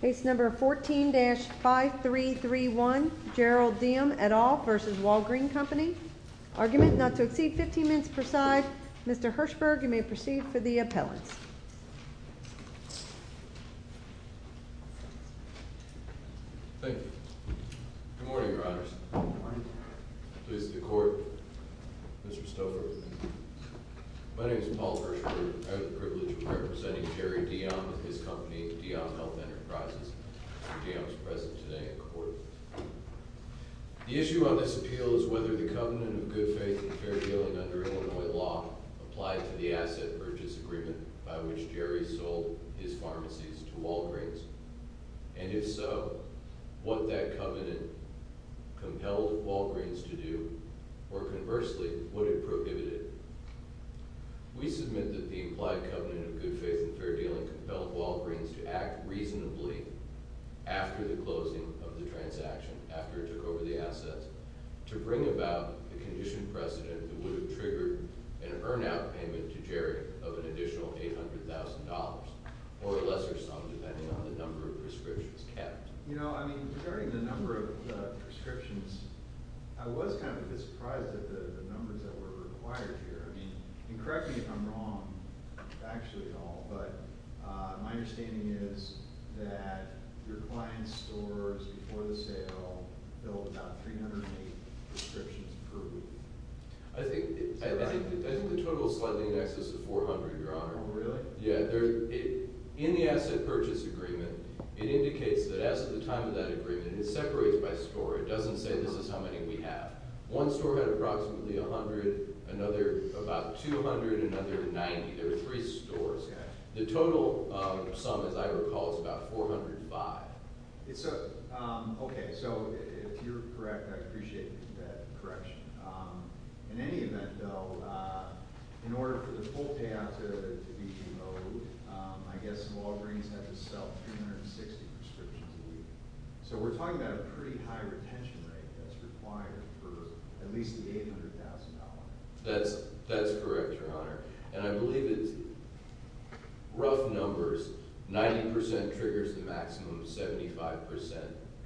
Case number 14-5331, Gerald Deom et al v. Walgreen Company. Argument not to exceed 15 minutes per side. Mr. Hirshberg, you may proceed for the appellants. Thank you. Good morning, Your Honors. Good morning. Please, the Court. Mr. Stover. My name is Paul Hirshberg. I have the privilege of representing Jerry Deom and his company, Deom Health Enterprises. Mr. Deom is present today in court. The issue on this appeal is whether the covenant of good faith and fair dealing under Illinois law applied to the asset purchase agreement by which Jerry sold his pharmacies to Walgreens, and if so, what that covenant compelled Walgreens to do, or conversely, would it prohibit it. We submit that the implied covenant of good faith and fair dealing compelled Walgreens to act reasonably after the closing of the transaction, after it took over the assets, to bring about the conditioned precedent that would have triggered an earn-out payment to Jerry of an additional $800,000, or a lesser sum depending on the number of prescriptions kept. You know, I mean, regarding the number of prescriptions, I was kind of a bit surprised at the numbers that were required here. I mean, and correct me if I'm wrong, actually at all, but my understanding is that your client's stores, before the sale, built about 308 prescriptions per week. I think the total slightly in excess of 400, Your Honor. Oh, really? Yeah. In the asset purchase agreement, it indicates that at the time of that agreement, it separates by store. It doesn't say this is how many we have. One store had approximately 100, another about 200, another 90. There were three stores. The total sum, as I recall, is about 405. Okay. So if you're correct, I appreciate that correction. In any event, though, in order for the full payout to be demoted, I guess Walgreens had to sell 260 prescriptions a week. So we're talking about a pretty high retention rate that's required for at least the $800,000. That's correct, Your Honor. And I believe it's rough numbers. 90% triggers the maximum, 75%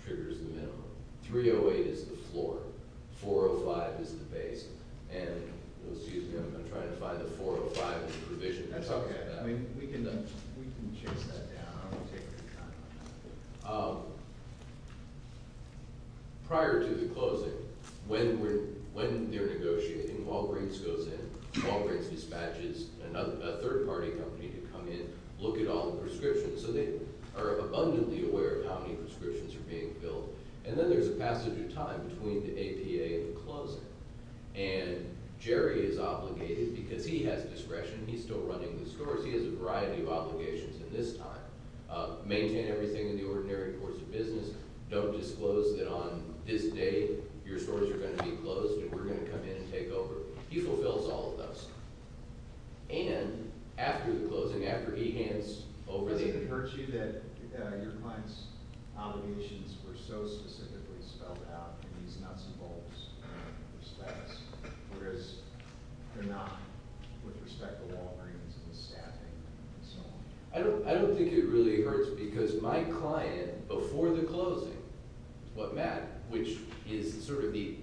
triggers the minimum. 308 is the floor. 405 is the base. And, excuse me, I'm trying to find the 405 in the provision. That's okay. We can chase that down. I don't want to take any time on that. Prior to the closing, when they're negotiating, Walgreens goes in. Walgreens dispatches a third-party company to come in, look at all the prescriptions. So they are abundantly aware of how many prescriptions are being filled. And then there's a passage of time between the APA and the closing. And Jerry is obligated because he has discretion. He's still running the stores. He has a variety of obligations in this time. Maintain everything in the ordinary course of business. Don't disclose that on this day your stores are going to be closed and we're going to come in and take over. He fulfills all of those. And after the closing, after he hands over the— I don't think it really hurts because my client, before the closing, what Matt, which is sort of the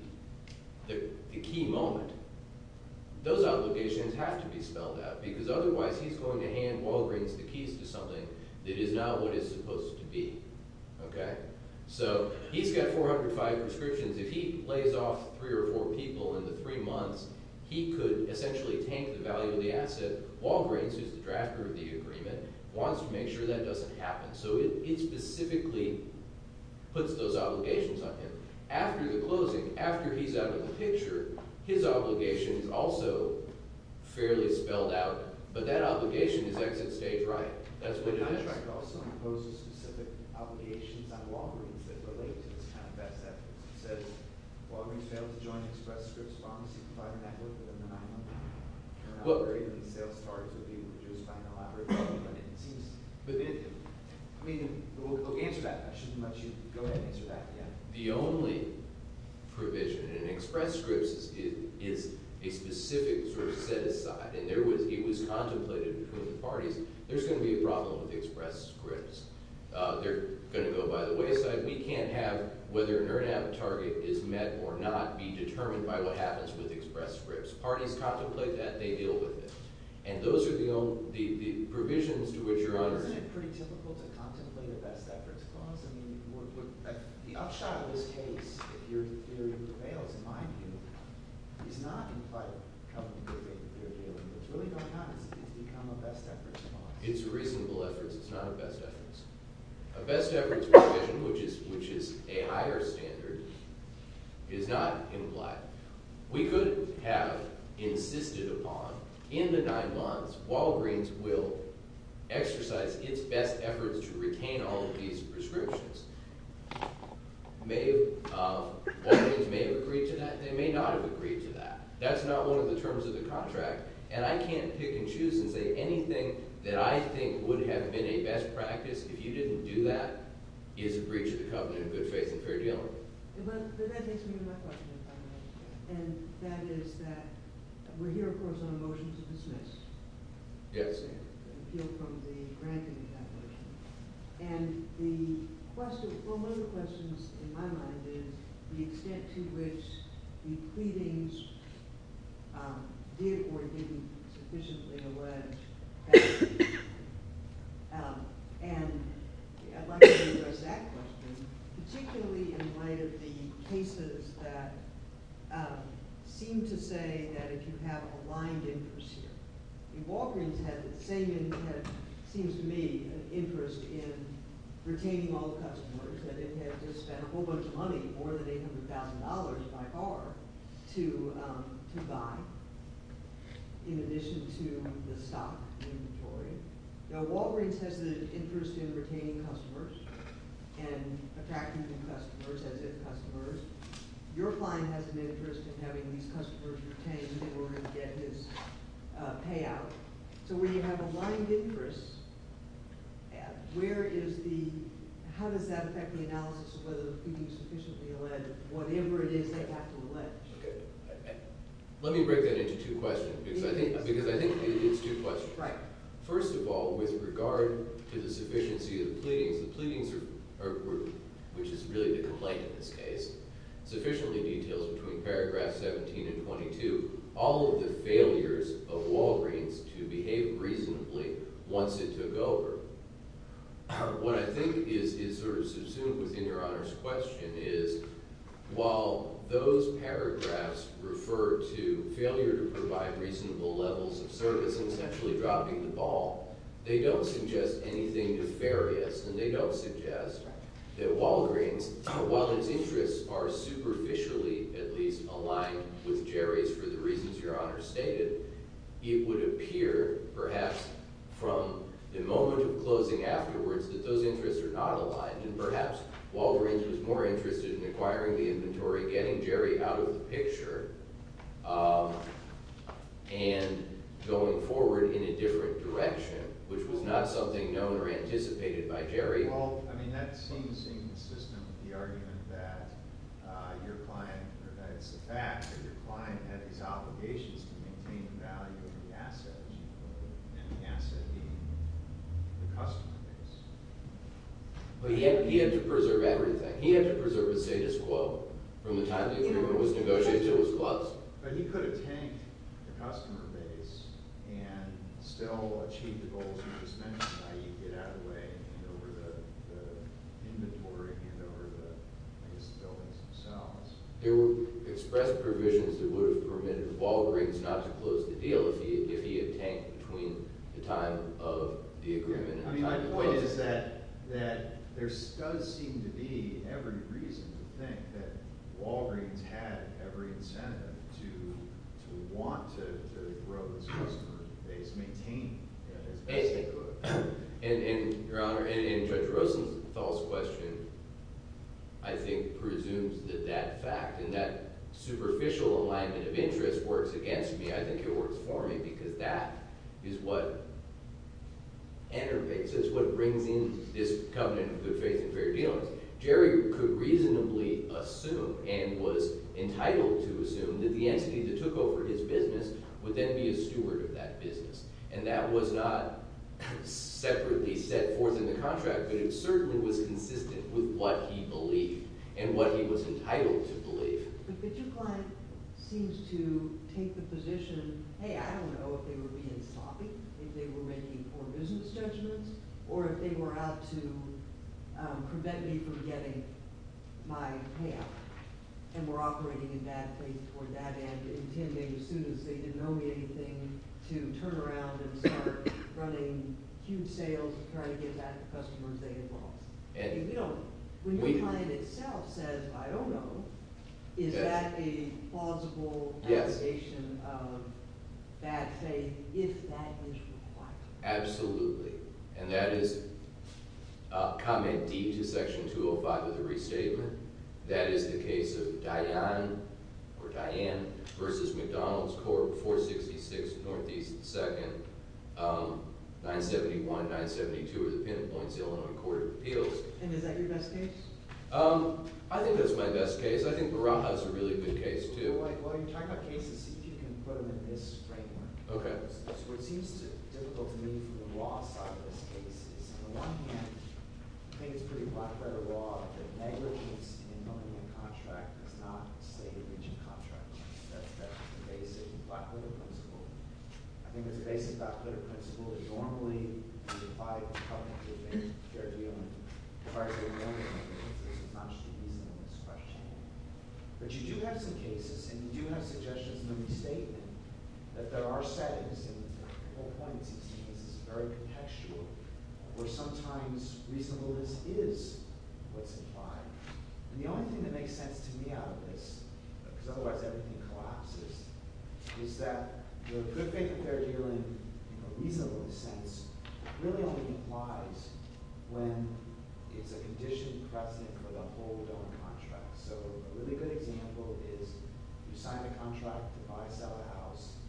key moment, those obligations have to be spelled out because otherwise he's going to hand Walgreens the keys to something that is not what it's supposed to be. Okay? So he's got 405 prescriptions. If he lays off three or four people in the three months, he could essentially tank the value of the asset. Walgreens, who's the drafter of the agreement, wants to make sure that doesn't happen. So it specifically puts those obligations on him. After the closing, after he's out of the picture, his obligation is also fairly spelled out. But that obligation is exit stage right. That's what it is. The contract also imposes specific obligations on Walgreens that relate to this kind of best efforts. It says, Walgreens failed to join Express Scripts' pharmacy provider network within the nine months. They're an operating and sales target to be reduced by an elaborate government. It seems—I mean, answer that. I shouldn't let you go ahead and answer that yet. The only provision in Express Scripts is a specific sort of set-aside, and it was contemplated between the parties. There's going to be a problem with Express Scripts. They're going to go by the wayside. We can't have whether a NIRNAP target is met or not be determined by what happens with Express Scripts. Parties contemplate that. They deal with it. And those are the provisions to which you're— Isn't it pretty typical to contemplate a best efforts clause? I mean, the upshot of this case, if your theory prevails, in my view, is not in fight with the company they're dealing with. What's really going on is it's become a best efforts clause. It's a reasonable efforts. It's not a best efforts. A best efforts provision, which is a higher standard, is not implied. We could have insisted upon in the nine months Walgreens will exercise its best efforts to retain all of these prescriptions. Walgreens may have agreed to that. They may not have agreed to that. That's not one of the terms of the contract, and I can't pick and choose and say anything that I think would have been a best practice. If you didn't do that, it's a breach of the covenant of good faith and fair dealing. But that takes me to my question, if I may. And that is that we're here, of course, on a motion to dismiss. Yes. Appeal from the granting of that motion. And the question – well, one of the questions in my mind is the extent to which the pleadings did or didn't sufficiently allege that. And I'd like to address that question, particularly in light of the cases that seem to say that if you have aligned interest here. Now, Walgreens has an interest in retaining customers and attracting new customers as if customers. Your client has an interest in having these customers retained in order to get his payout. So when you have aligned interest, where is the – how does that affect the analysis of whether the pleadings sufficiently allege whatever it is they have to allege? Let me break that into two questions because I think it's two questions. Right. First of all, with regard to the sufficiency of the pleadings, the pleadings are – which is really the complaint in this case – sufficiently detailed between paragraphs 17 and 22, all of the failures of Walgreens to behave reasonably once it took over. So what I think is sort of subsumed within Your Honor's question is while those paragraphs refer to failure to provide reasonable levels of service and essentially dropping the ball, they don't suggest anything nefarious. And they don't suggest that Walgreens, while its interests are superficially at least aligned with Jerry's for the reasons Your Honor stated, it would appear perhaps from the moment of closing afterwards that those interests are not aligned. And perhaps Walgreens was more interested in acquiring the inventory, getting Jerry out of the picture, and going forward in a different direction, which was not something known or anticipated by Jerry. Well, I mean that seems inconsistent with the argument that your client – or that it's the fact that your client had these obligations to maintain the value of the asset, as you put it, and the asset being the customer base. But he had to preserve everything. He had to preserve his status quo from the time that he was negotiating till his close. But he could have tanked the customer base and still achieved the goals you just mentioned, i.e. get out of the way and get over the inventory and get over the, I guess, the buildings themselves. There were expressed provisions that would have permitted Walgreens not to close the deal if he had tanked between the time of the agreement and the close. I mean my point is that there does seem to be every reason to think that Walgreens had every incentive to want to grow this customer base, maintain it as best they could. And, Your Honor, in Judge Rosenthal's question, I think presumes that that fact and that superficial alignment of interest works against me. I think it works for me because that is what enterpases, what brings in this covenant of good faith and fair dealings. Jerry could reasonably assume and was entitled to assume that the entity that took over his business would then be a steward of that business. And that was not separately set forth in the contract, but it certainly was consistent with what he believed and what he was entitled to believe. But your client seems to take the position, hey, I don't know if they were being sloppy, if they were making poor business judgments, or if they were out to prevent me from getting my payout. And were operating in bad faith toward that end, intending as soon as they didn't owe me anything to turn around and start running huge sales and trying to get back the customers they had lost. When your client itself says, I don't know, is that a plausible allegation of bad faith if that is required? Absolutely. And that is comment D to section 205 of the restatement. That is the case of Diane or Diane versus McDonald's Corp. 466 Northeast 2nd, 971, 972 of the pinpoints of the Illinois Court of Appeals. And is that your best case? I think that's my best case. I think Barajas is a really good case too. While you're talking about cases, see if you can put them in this framework. What seems difficult to me from the law side of this case is, on the one hand, I think it's pretty black-letter law that negligence in filling in a contract does not state a breach of contract. That's a basic black-letter principle. I think it's a basic black-letter principle that normally is applied in public to a case of fair dealing. But you do have some cases, and you do have suggestions in the restatement, that there are settings, and the whole point of these cases is very contextual, where sometimes reasonableness is what's implied. The only thing that makes sense to me out of this, because otherwise everything collapses, is that the good faith in fair dealing, in a reasonableness sense, really only implies when it's a conditioned precedent for the whole donor contract. A really good example is, you sign a contract to buy or sell a house,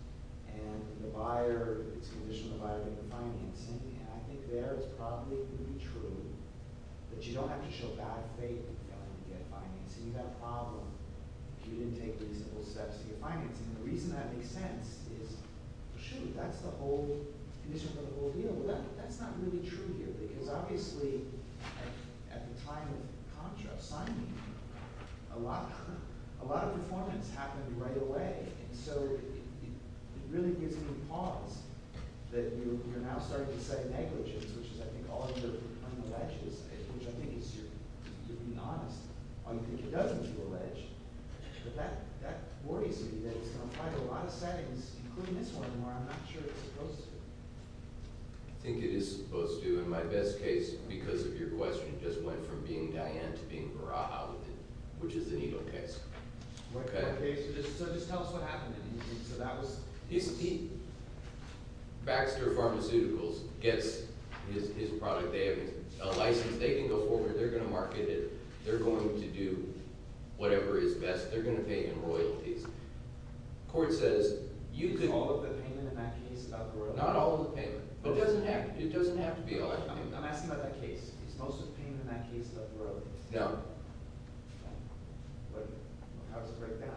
and the buyer, it's conditioned by the buyer making the financing. I think there it's probably going to be true, but you don't have to show bad faith to get financing. You have a problem if you didn't take reasonable steps to get financing. The reason that makes sense is, shoot, that's the whole condition for the whole deal. Well, that's not really true here, because obviously at the time of contract signing, a lot of performance happened right away. So it really gives me pause that you're now starting to say negligence, which is, I think, all you're being alleged to say, which I think is you're being honest. All you think it does is you're alleged. But that worries me, that it's going to apply to a lot of settings, including this one, where I'm not sure it's supposed to. I think it is supposed to. And my best case, because of your question, just went from being Diane to being Baraha with it, which is the needle case. So just tell us what happened in the needle case. Baxter Pharmaceuticals gets his product. They have a license. They can go forward. They're going to market it. They're going to do whatever is best. They're going to pay in royalties. Court says you could – All of the payment in that case of royalties? Not all of the payment. But it doesn't have to be all that payment. I'm asking about that case. Is most of the payment in that case of royalties? No. How does it break down?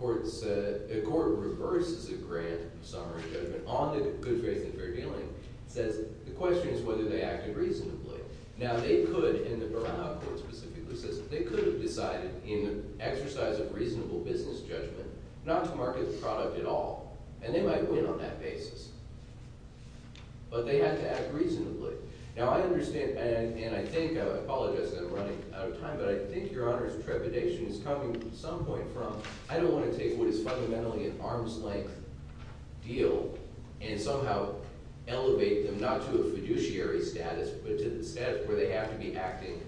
The court reverses a grand summary judgment on the good faith and fair dealing. It says the question is whether they acted reasonably. Now, they could, in the Baraha court specifically, they could have decided in the exercise of reasonable business judgment not to market the product at all. And they might win on that basis. But they had to act reasonably. Now, I understand – and I think – I apologize that I'm running out of time. But I think Your Honor's trepidation is coming at some point from I don't want to take what is fundamentally an arm's length deal and somehow elevate them not to a fiduciary status but to the status where they have to be acting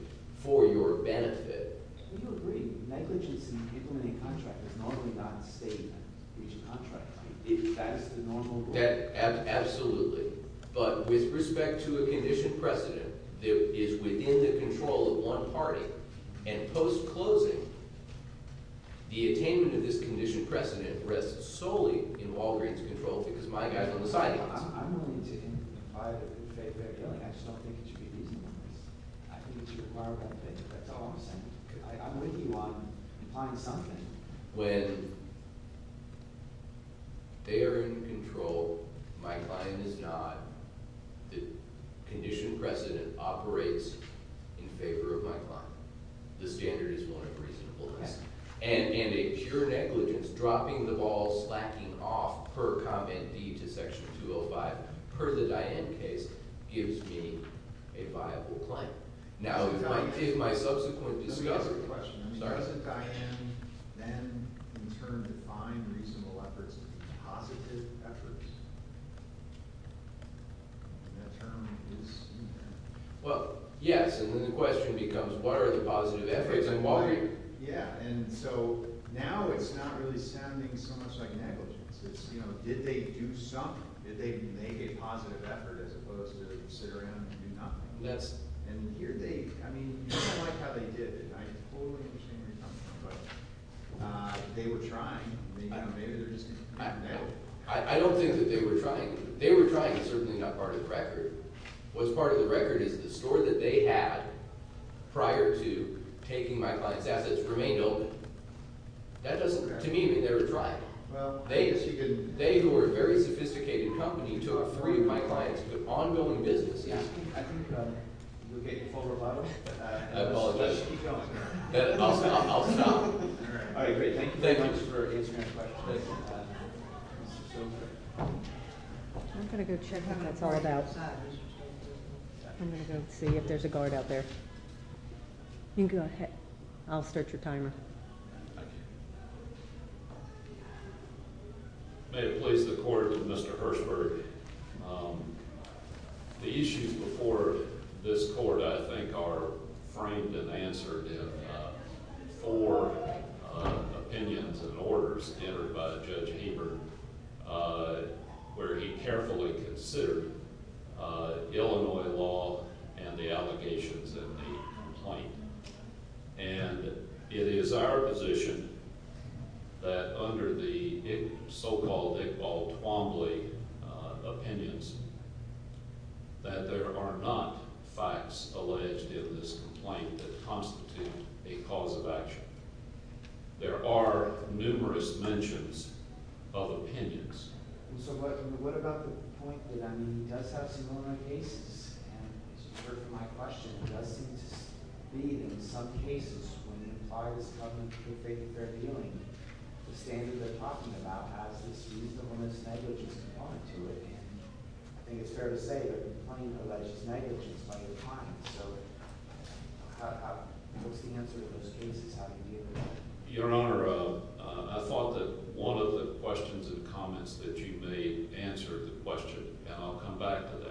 for your benefit. Do you agree that negligence in implementing a contract is normally not stated in each contract? If that is the normal rule? Absolutely. Absolutely. But with respect to a condition precedent, it is within the control of one party. And post-closing, the attainment of this condition precedent rests solely in Walgreens' control because my guy's on the sidelines. I'm willing to implement the good faith and fair dealing. I just don't think it should be reasonable. I think it should require one thing. That's all I'm saying. I'm with you on implying something. When they are in control, my client is not. The condition precedent operates in favor of my client. The standard is one of reasonableness. And a pure negligence, dropping the ball, slacking off per comment D to Section 205, per the Diane case, gives me a viable client. Now, what did my subsequent discovery – Let me ask you a question. Doesn't Diane then, in turn, define reasonable efforts to be positive efforts? And that term is – Well, yes. And then the question becomes, what are the positive efforts in Walgreens? Yeah. And so now it's not really sounding so much like negligence. It's, you know, did they do something? Did they make a positive effort as opposed to sit around and do nothing? And here they – I mean, I like how they did it, and I totally understand where you're coming from. But they were trying. I don't know. Maybe they're just – I don't think that they were trying. They were trying is certainly not part of the record. What's part of the record is the store that they had prior to taking my client's assets remained open. That doesn't, to me, mean they were trying. They, who are a very sophisticated company, took three of my clients to ongoing businesses. I think you're getting full rebuttals. I apologize. Keep going. I'll stop. All right, great. Thank you. Thank you for answering my question. Thank you. Mr. Silver? I'm going to go check on what it's all about. I'm going to go see if there's a guard out there. You can go ahead. I'll start your timer. Thank you. May it please the Court, Mr. Hershberg. The issues before this Court, I think, are framed and answered in four opinions and orders entered by Judge Haber, where he carefully considered Illinois law and the allegations in the complaint. And it is our position that under the so-called Iqbal Twombly opinions that there are not facts alleged in this complaint that constitute a cause of action. There are numerous mentions of opinions. And so what about the point that, I mean, he does have some Illinois cases? And it's a part of my question. It does seem to lead, in some cases, when it applies to government-approved rape and fair dealing, the standard they're talking about has this reasonable misnegligence component to it. And I think it's fair to say that the complaint alleges negligence by your client. So what's the answer to those cases? How do you deal with that? Your Honor, I thought that one of the questions and comments that you made answered the question, and I'll come back to that.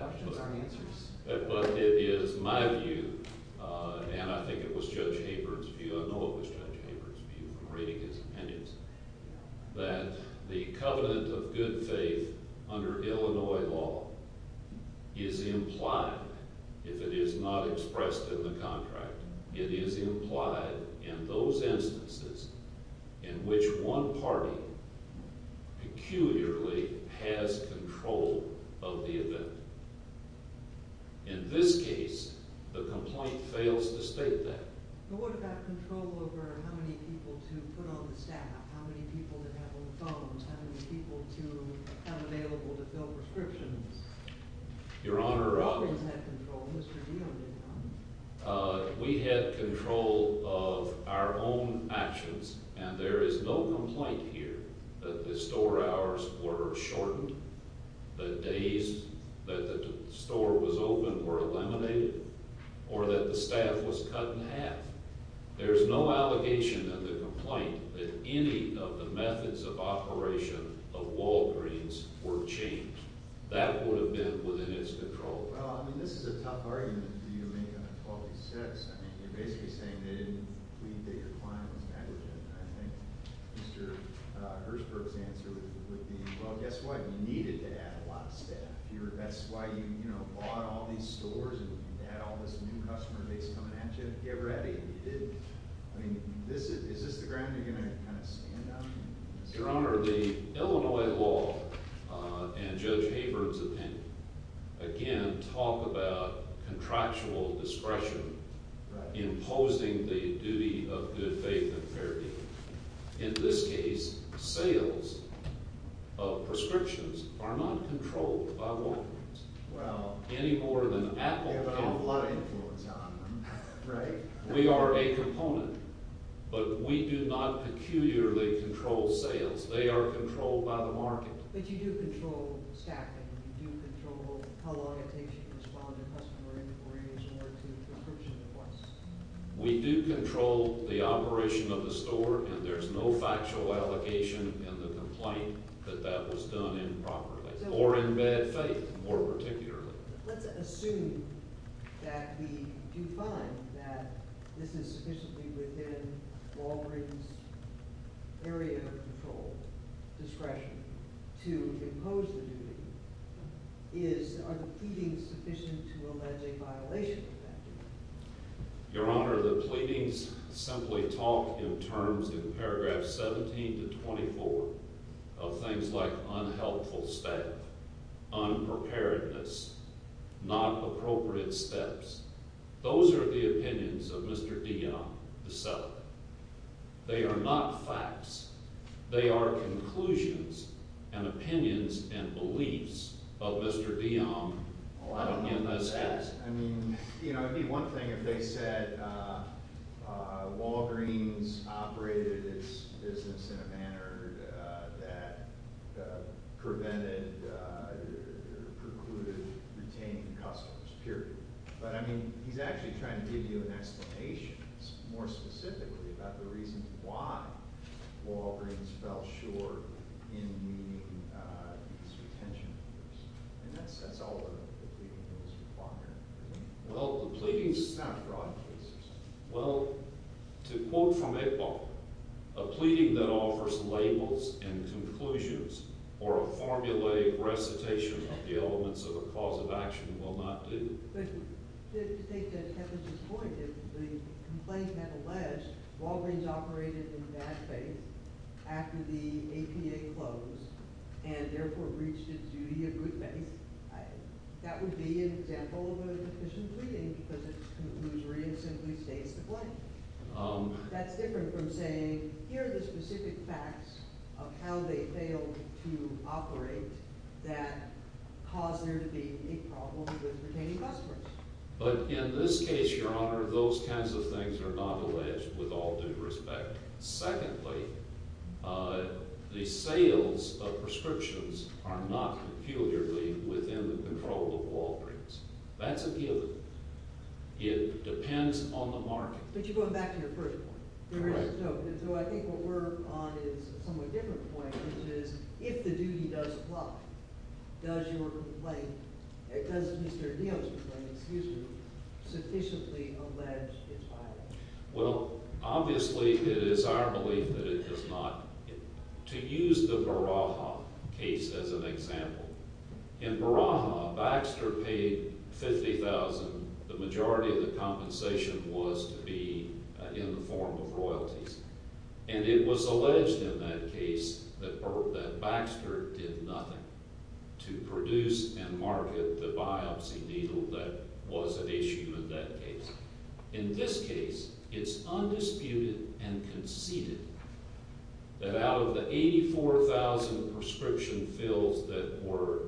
But it is my view, and I think it was Judge Haber's view, I know it was Judge Haber's view from reading his opinions, that the covenant of good faith under Illinois law is implied if it is not expressed in the contract. It is implied in those instances in which one party peculiarly has control of the event. In this case, the complaint fails to state that. But what about control over how many people to put on the staff? How many people to have on the phones? How many people to have available to fill prescriptions? Your Honor— How is that controlled? Mr. Deaton did not. We had control of our own actions, and there is no complaint here that the store hours were shortened, the days that the store was open were eliminated, or that the staff was cut in half. There is no allegation in the complaint that any of the methods of operation of Walgreens were changed. That would have been within its control. Well, I mean, this is a tough argument for you to make on 12-6. I mean, you're basically saying they didn't plead that your client was negligent. I think Mr. Herzberg's answer would be, well, guess what? You needed to add a lot of staff. That's why you bought all these stores and had all this new customer base coming at you to get ready. You didn't. I mean, is this the ground you're going to kind of stand on? Your Honor, the Illinois law and Judge Haber's opinion, again, talk about contractual discretion imposing the duty of good faith and fair dealing. In this case, sales of prescriptions are not controlled by Walgreens any more than Apple can. They have a lot of influence on them, right? We are a component, but we do not peculiarly control sales. They are controlled by the market. But you do control staffing. You do control how long it takes you to respond to customer inquiries or to prescription requests. We do control the operation of the store, and there's no factual allocation in the complaint that that was done improperly or in bad faith more particularly. Let's assume that we do find that this is sufficiently within Walgreens' area of control, discretion, to impose the duty. Are the pleadings sufficient to allege a violation of that duty? Your Honor, the pleadings simply talk in terms in paragraphs 17 to 24 of things like unhelpful staff, unpreparedness, not appropriate steps. Those are the opinions of Mr. DeYoung, the seller. They are not facts. They are conclusions and opinions and beliefs of Mr. DeYoung in this case. I mean, you know, it would be one thing if they said Walgreens operated its business in a manner that prevented or precluded retaining customers, period. But, I mean, he's actually trying to give you an explanation more specifically about the reasons why Walgreens fell short in meeting its retention rules. And that's all the pleadings require. Well, the pleadings is not broad cases. Well, to quote from Iqbal, a pleading that offers labels and conclusions or a formulated recitation of the elements of a cause of action will not do. But to take that to Kevin's point, if the complaint had alleged Walgreens operated in bad faith after the APA closed and therefore breached its duty of good faith, that would be an example of an inefficient pleading because its conclusion simply stays the same. That's different from saying, here are the specific facts of how they failed to operate that caused there to be a problem with retaining customers. But in this case, Your Honor, those kinds of things are not alleged with all due respect. Secondly, the sales of prescriptions are not peculiarly within the control of Walgreens. That's a given. It depends on the market. But you're going back to your first point. Correct. So I think what we're on is a somewhat different point, which is, if the duty does apply, does your complaint, does Mr. Neal's complaint, excuse me, sufficiently allege its violations? Well, obviously, it is our belief that it does not. To use the Baraha case as an example, in Baraha, Baxter paid $50,000. The majority of the compensation was to be in the form of royalties. And it was alleged in that case that Baxter did nothing to produce and market the biopsy needle that was at issue in that case. In this case, it's undisputed and conceded that out of the 84,000 prescription fills that were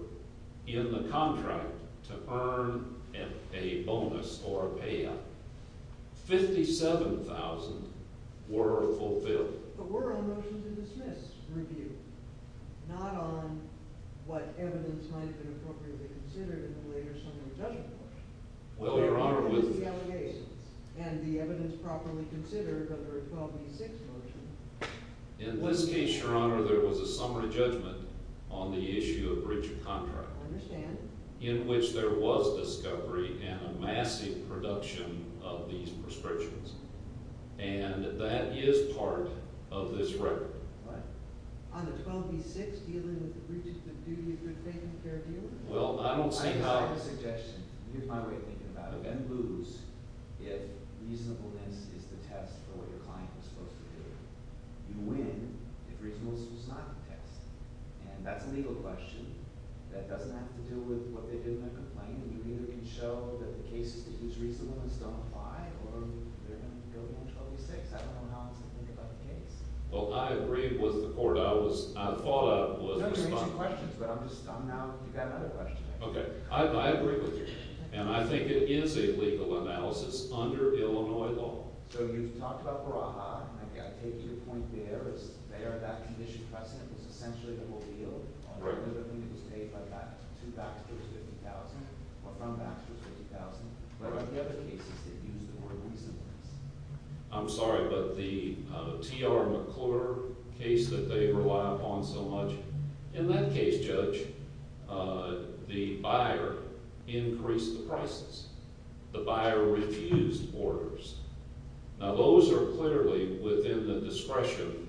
in the contract to earn a bonus or a payout, 57,000 were fulfilled. But we're on motion to dismiss review, not on what evidence might have been appropriately considered in the later summary judgment portion. Well, Your Honor, with the allegations and the evidence properly considered under a 12B6 motion… In this case, Your Honor, there was a summary judgment on the issue of breach of contract. I understand. In which there was discovery and a massive production of these prescriptions. And that is part of this record. What? On the 12B6, dealing with the breach of the duty of good faith and fair dealing? Well, I don't see how… Here's my suggestion. Here's my way of thinking about it. You're going to lose if reasonableness is the test for what your client was supposed to do. You win if reasonableness was not the test. And that's a legal question that doesn't have to do with what they did in that complaint. You either can show that the cases in which reasonableness don't apply or they're going to go on 12B6. I don't know how else to think about the case. Well, I agree with the court. I was… I thought I was responsible. You don't have to make any questions, but I'm just… I'm now… You've got another question. Okay. I agree with you. And I think it is a legal analysis under Illinois law. So you've talked about Baraha. I take your point there as they are that condition precedent. It's essentially the whole deal. Right. Whether the money was paid by that to Baxter's 50,000 or from Baxter's 50,000. What are the other cases that use the word reasonableness? I'm sorry, but the T.R. McClure case that they rely upon so much, in that case, Judge, the buyer increased the prices. The buyer refused orders. Now, those are clearly within the discretion…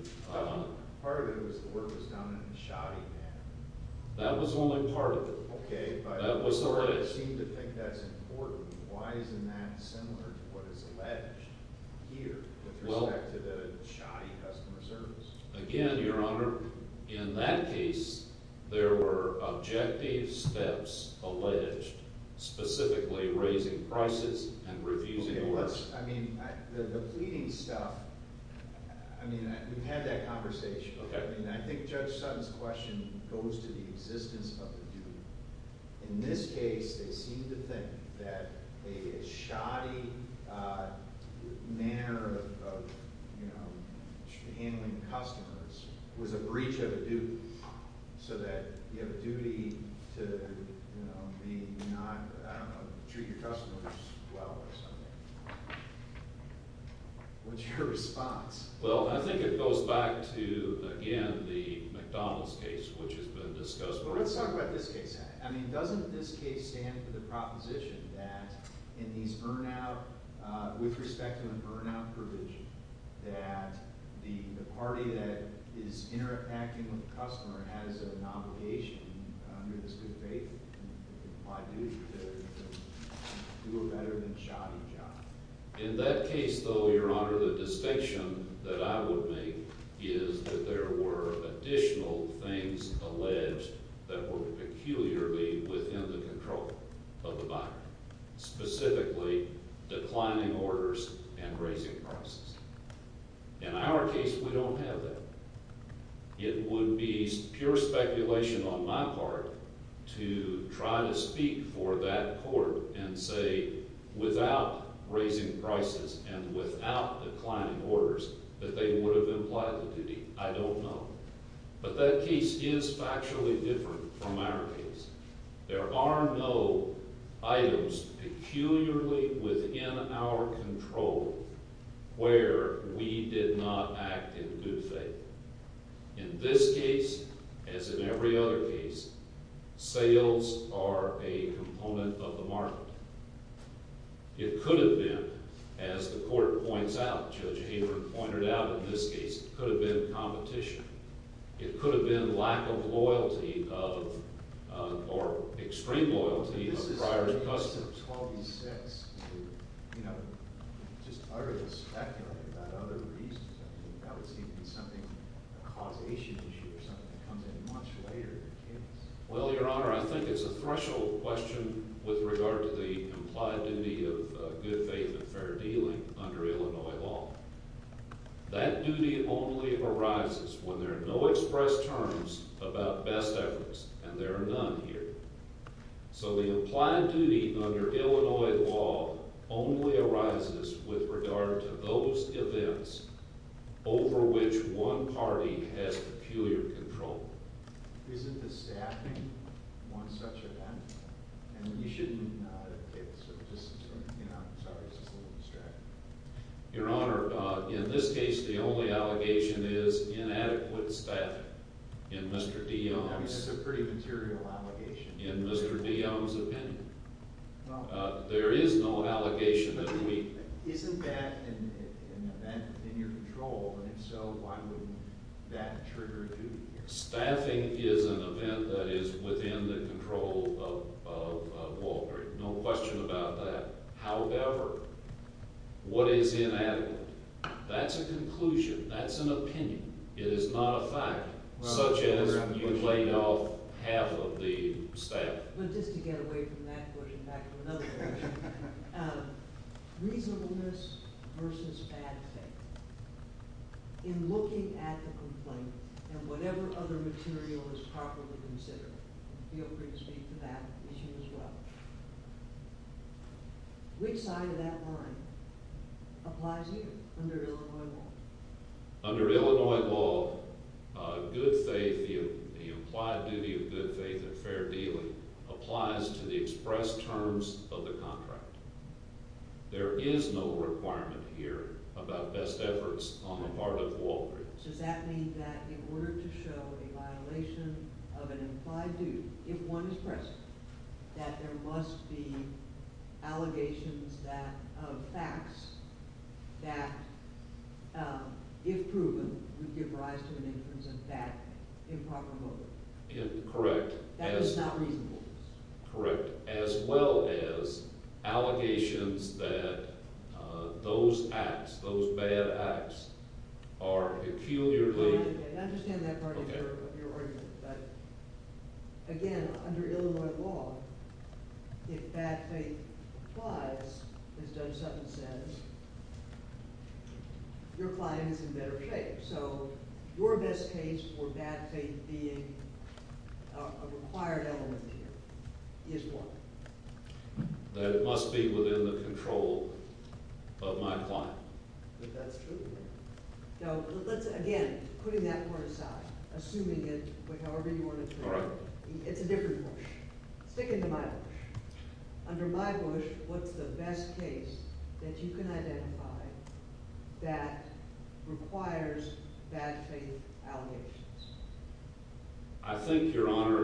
Part of it was the work was done in a shoddy manner. That was only part of it. Okay, but… That was alleged. I seem to think that's important. Why isn't that similar to what is alleged here with respect to the shoddy customer service? Again, Your Honor, in that case, there were objective steps alleged, specifically raising prices and refusing orders. I mean, the pleading stuff… I mean, we've had that conversation. Okay. I mean, I think Judge Sutton's question goes to the existence of the duty. In this case, they seem to think that a shoddy manner of handling customers was a breach of a duty so that you have a duty to not treat your customers well or something. What's your response? Well, I think it goes back to, again, the McDonald's case, which has been discussed. But let's talk about this case. I mean, doesn't this case stand for the proposition that in these burnout… With respect to a burnout provision, that the party that is interacting with the customer has an obligation under this good faith and implied duty to do a better than shoddy job? In that case, though, Your Honor, the distinction that I would make is that there were additional things alleged that were peculiarly within the control of the buyer, specifically declining orders and raising prices. In our case, we don't have that. It would be pure speculation on my part to try to speak for that court and say without raising prices and without declining orders that they would have implied the duty. I don't know. But that case is factually different from our case. There are no items peculiarly within our control where we did not act in good faith. In this case, as in every other case, sales are a component of the market. It could have been, as the court points out, Judge Haber pointed out in this case, it could have been competition. It could have been lack of loyalty of – or extreme loyalty of the buyer to the customer. Well, Your Honor, I think it's a threshold question with regard to the implied duty of good faith and fair dealing under Illinois law. That duty only arises when there are no express terms about best efforts, and there are none here. So the implied duty under Illinois law only arises with regard to those events over which one party has peculiar control. Isn't the staffing one such event? And you shouldn't advocate this sort of distance from – I'm sorry, this is a little distracting. Your Honor, in this case, the only allegation is inadequate staffing. I mean, that's a pretty material allegation. In Mr. DeYoung's opinion, there is no allegation that we – Isn't that an event in your control? And if so, why would that trigger duty? Staffing is an event that is within the control of Walgreens. No question about that. However, what is inadequate? That's a conclusion. That's an opinion. It is not a fact, such as you laid off half of the staff. But just to get away from that question, back to another question, reasonableness versus bad faith. In looking at the complaint and whatever other material is properly considered, feel free to speak to that issue as well, which side of that line applies to you under Illinois law? Under Illinois law, good faith, the implied duty of good faith and fair dealing applies to the express terms of the contract. There is no requirement here about best efforts on the part of Walgreens. Does that mean that in order to show a violation of an implied duty, if one is present, that there must be allegations of facts that, if proven, would give rise to an inference of that improper motive? Correct. That is not reasonableness? Correct, as well as allegations that those acts, those bad acts, are peculiarly... I understand that part of your argument. But again, under Illinois law, if bad faith applies, as Doug Sutton says, your client is in better shape. So your best case for bad faith being a required element to you is what? That it must be within the control of my client. That's true. Now, again, putting that part aside, assuming it, however you want to put it, it's a different bush. I think, Your Honor,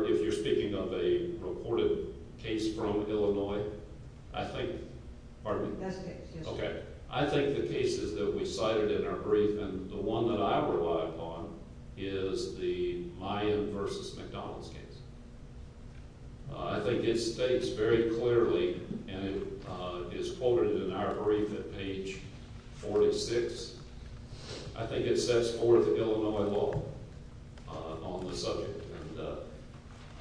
if you're speaking of a reported case from Illinois, I think... Pardon me? Best case, yes. Okay. I think the cases that we cited in our brief, and the one that I rely upon, is the Mayan v. McDonald's case. I think it states very clearly, and it's quoted in our brief at page 46. I think it sets forth Illinois law on the subject. And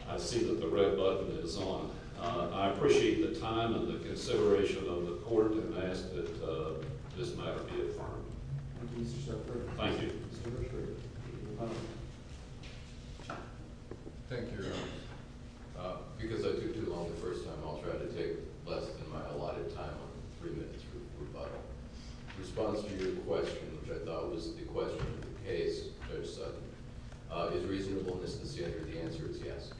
I see that the red button is on. I appreciate the time and the consideration of the court, and I ask that this matter be affirmed. Thank you, Mr. Secretary. Thank you. Mr. Hershberger. Thank you, Your Honor. Because I took too long the first time, I'll try to take less than my allotted time on the three-minute rebuttal. In response to your question, which I thought was the question of the case, Judge Sutton, is reasonableness the standard? The answer is yes.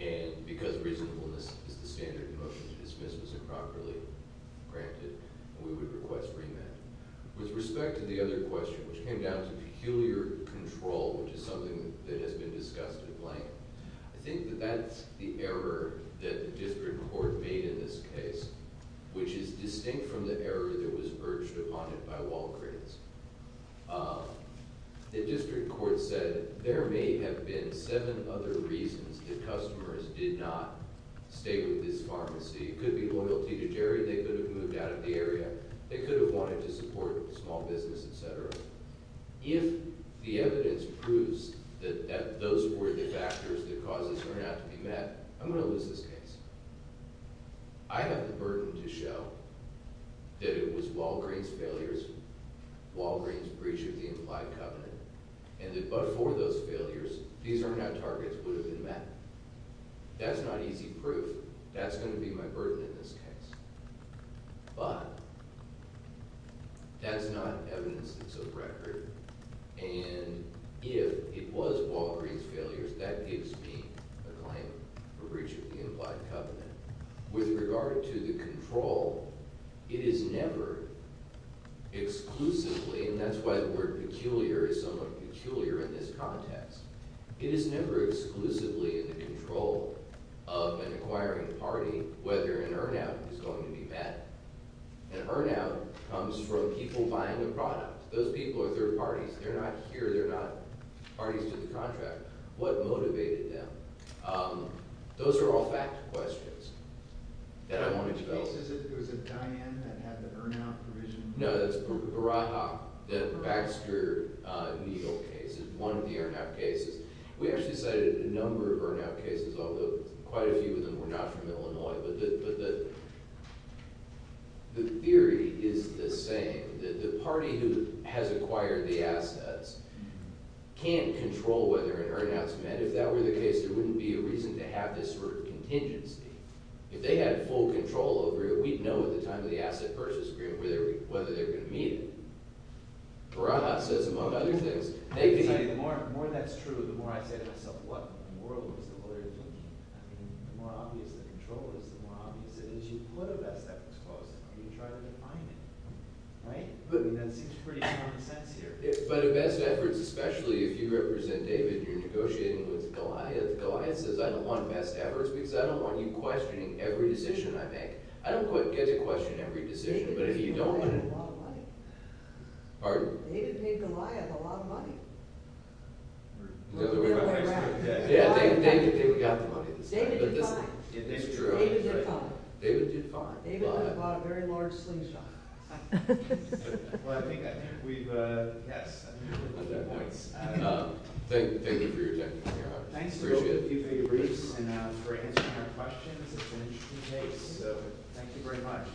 And because reasonableness is the standard in motion to dismiss as improperly granted, we would request remand. With respect to the other question, which came down to peculiar control, which is something that has been discussed at length, I think that that's the error that the district court made in this case, which is distinct from the error that was urged upon it by Walgreens. The district court said there may have been seven other reasons that customers did not stay with this pharmacy. It could be loyalty to Jerry. They could have moved out of the area. They could have wanted to support small business, et cetera. If the evidence proves that those were the factors that caused this turnout to be met, I'm going to lose this case. I have the burden to show that it was Walgreens' failures, Walgreens' breach of the implied covenant, and that before those failures, these turnout targets would have been met. That's not easy proof. That's going to be my burden in this case. But that's not evidence that's of record, and if it was Walgreens' failures, that gives me a claim for breach of the implied covenant. With regard to the control, it is never exclusively, and that's why the word peculiar is somewhat peculiar in this context, it is never exclusively in the control of an acquiring party whether an earn-out is going to be met. An earn-out comes from people buying the product. Those people are third parties. They're not here. They're not parties to the contract. What motivated them? Those are all fact questions that I want to develop. It was a Diane that had the earn-out provision. No, that's Baraha. The Baxter needle case is one of the earn-out cases. We actually cited a number of earn-out cases, although quite a few of them were not from Illinois, but the theory is the same, that the party who has acquired the assets can't control whether an earn-out is met. If that were the case, there wouldn't be a reason to have this sort of contingency. If they had full control over it, we'd know at the time of the Asset Purchase Agreement whether they were going to meet it. Baraha says, among other things, they could meet it. The more that's true, the more I say to myself, what in the world is the lawyer thinking? The more obvious the control is, the more obvious it is. You put a best efforts clause in there. You try to define it. Right? That seems pretty common sense here. But a best efforts, especially if you represent David, you're negotiating with Goliath. Goliath says, I don't want a best efforts because I don't want you questioning every decision I make. I don't get to question every decision, but if you don't – David paid Goliath a lot of money. Pardon? David paid Goliath a lot of money. In other words – Yeah, David got the money this time. David did fine. It's true. David did fine. David did fine. David just bought a very large slingshot. Well, I think I think we've – yes. Thank you for your time. Thanks to both of you for your briefs and for answering our questions. It's an interesting case, so thank you very much.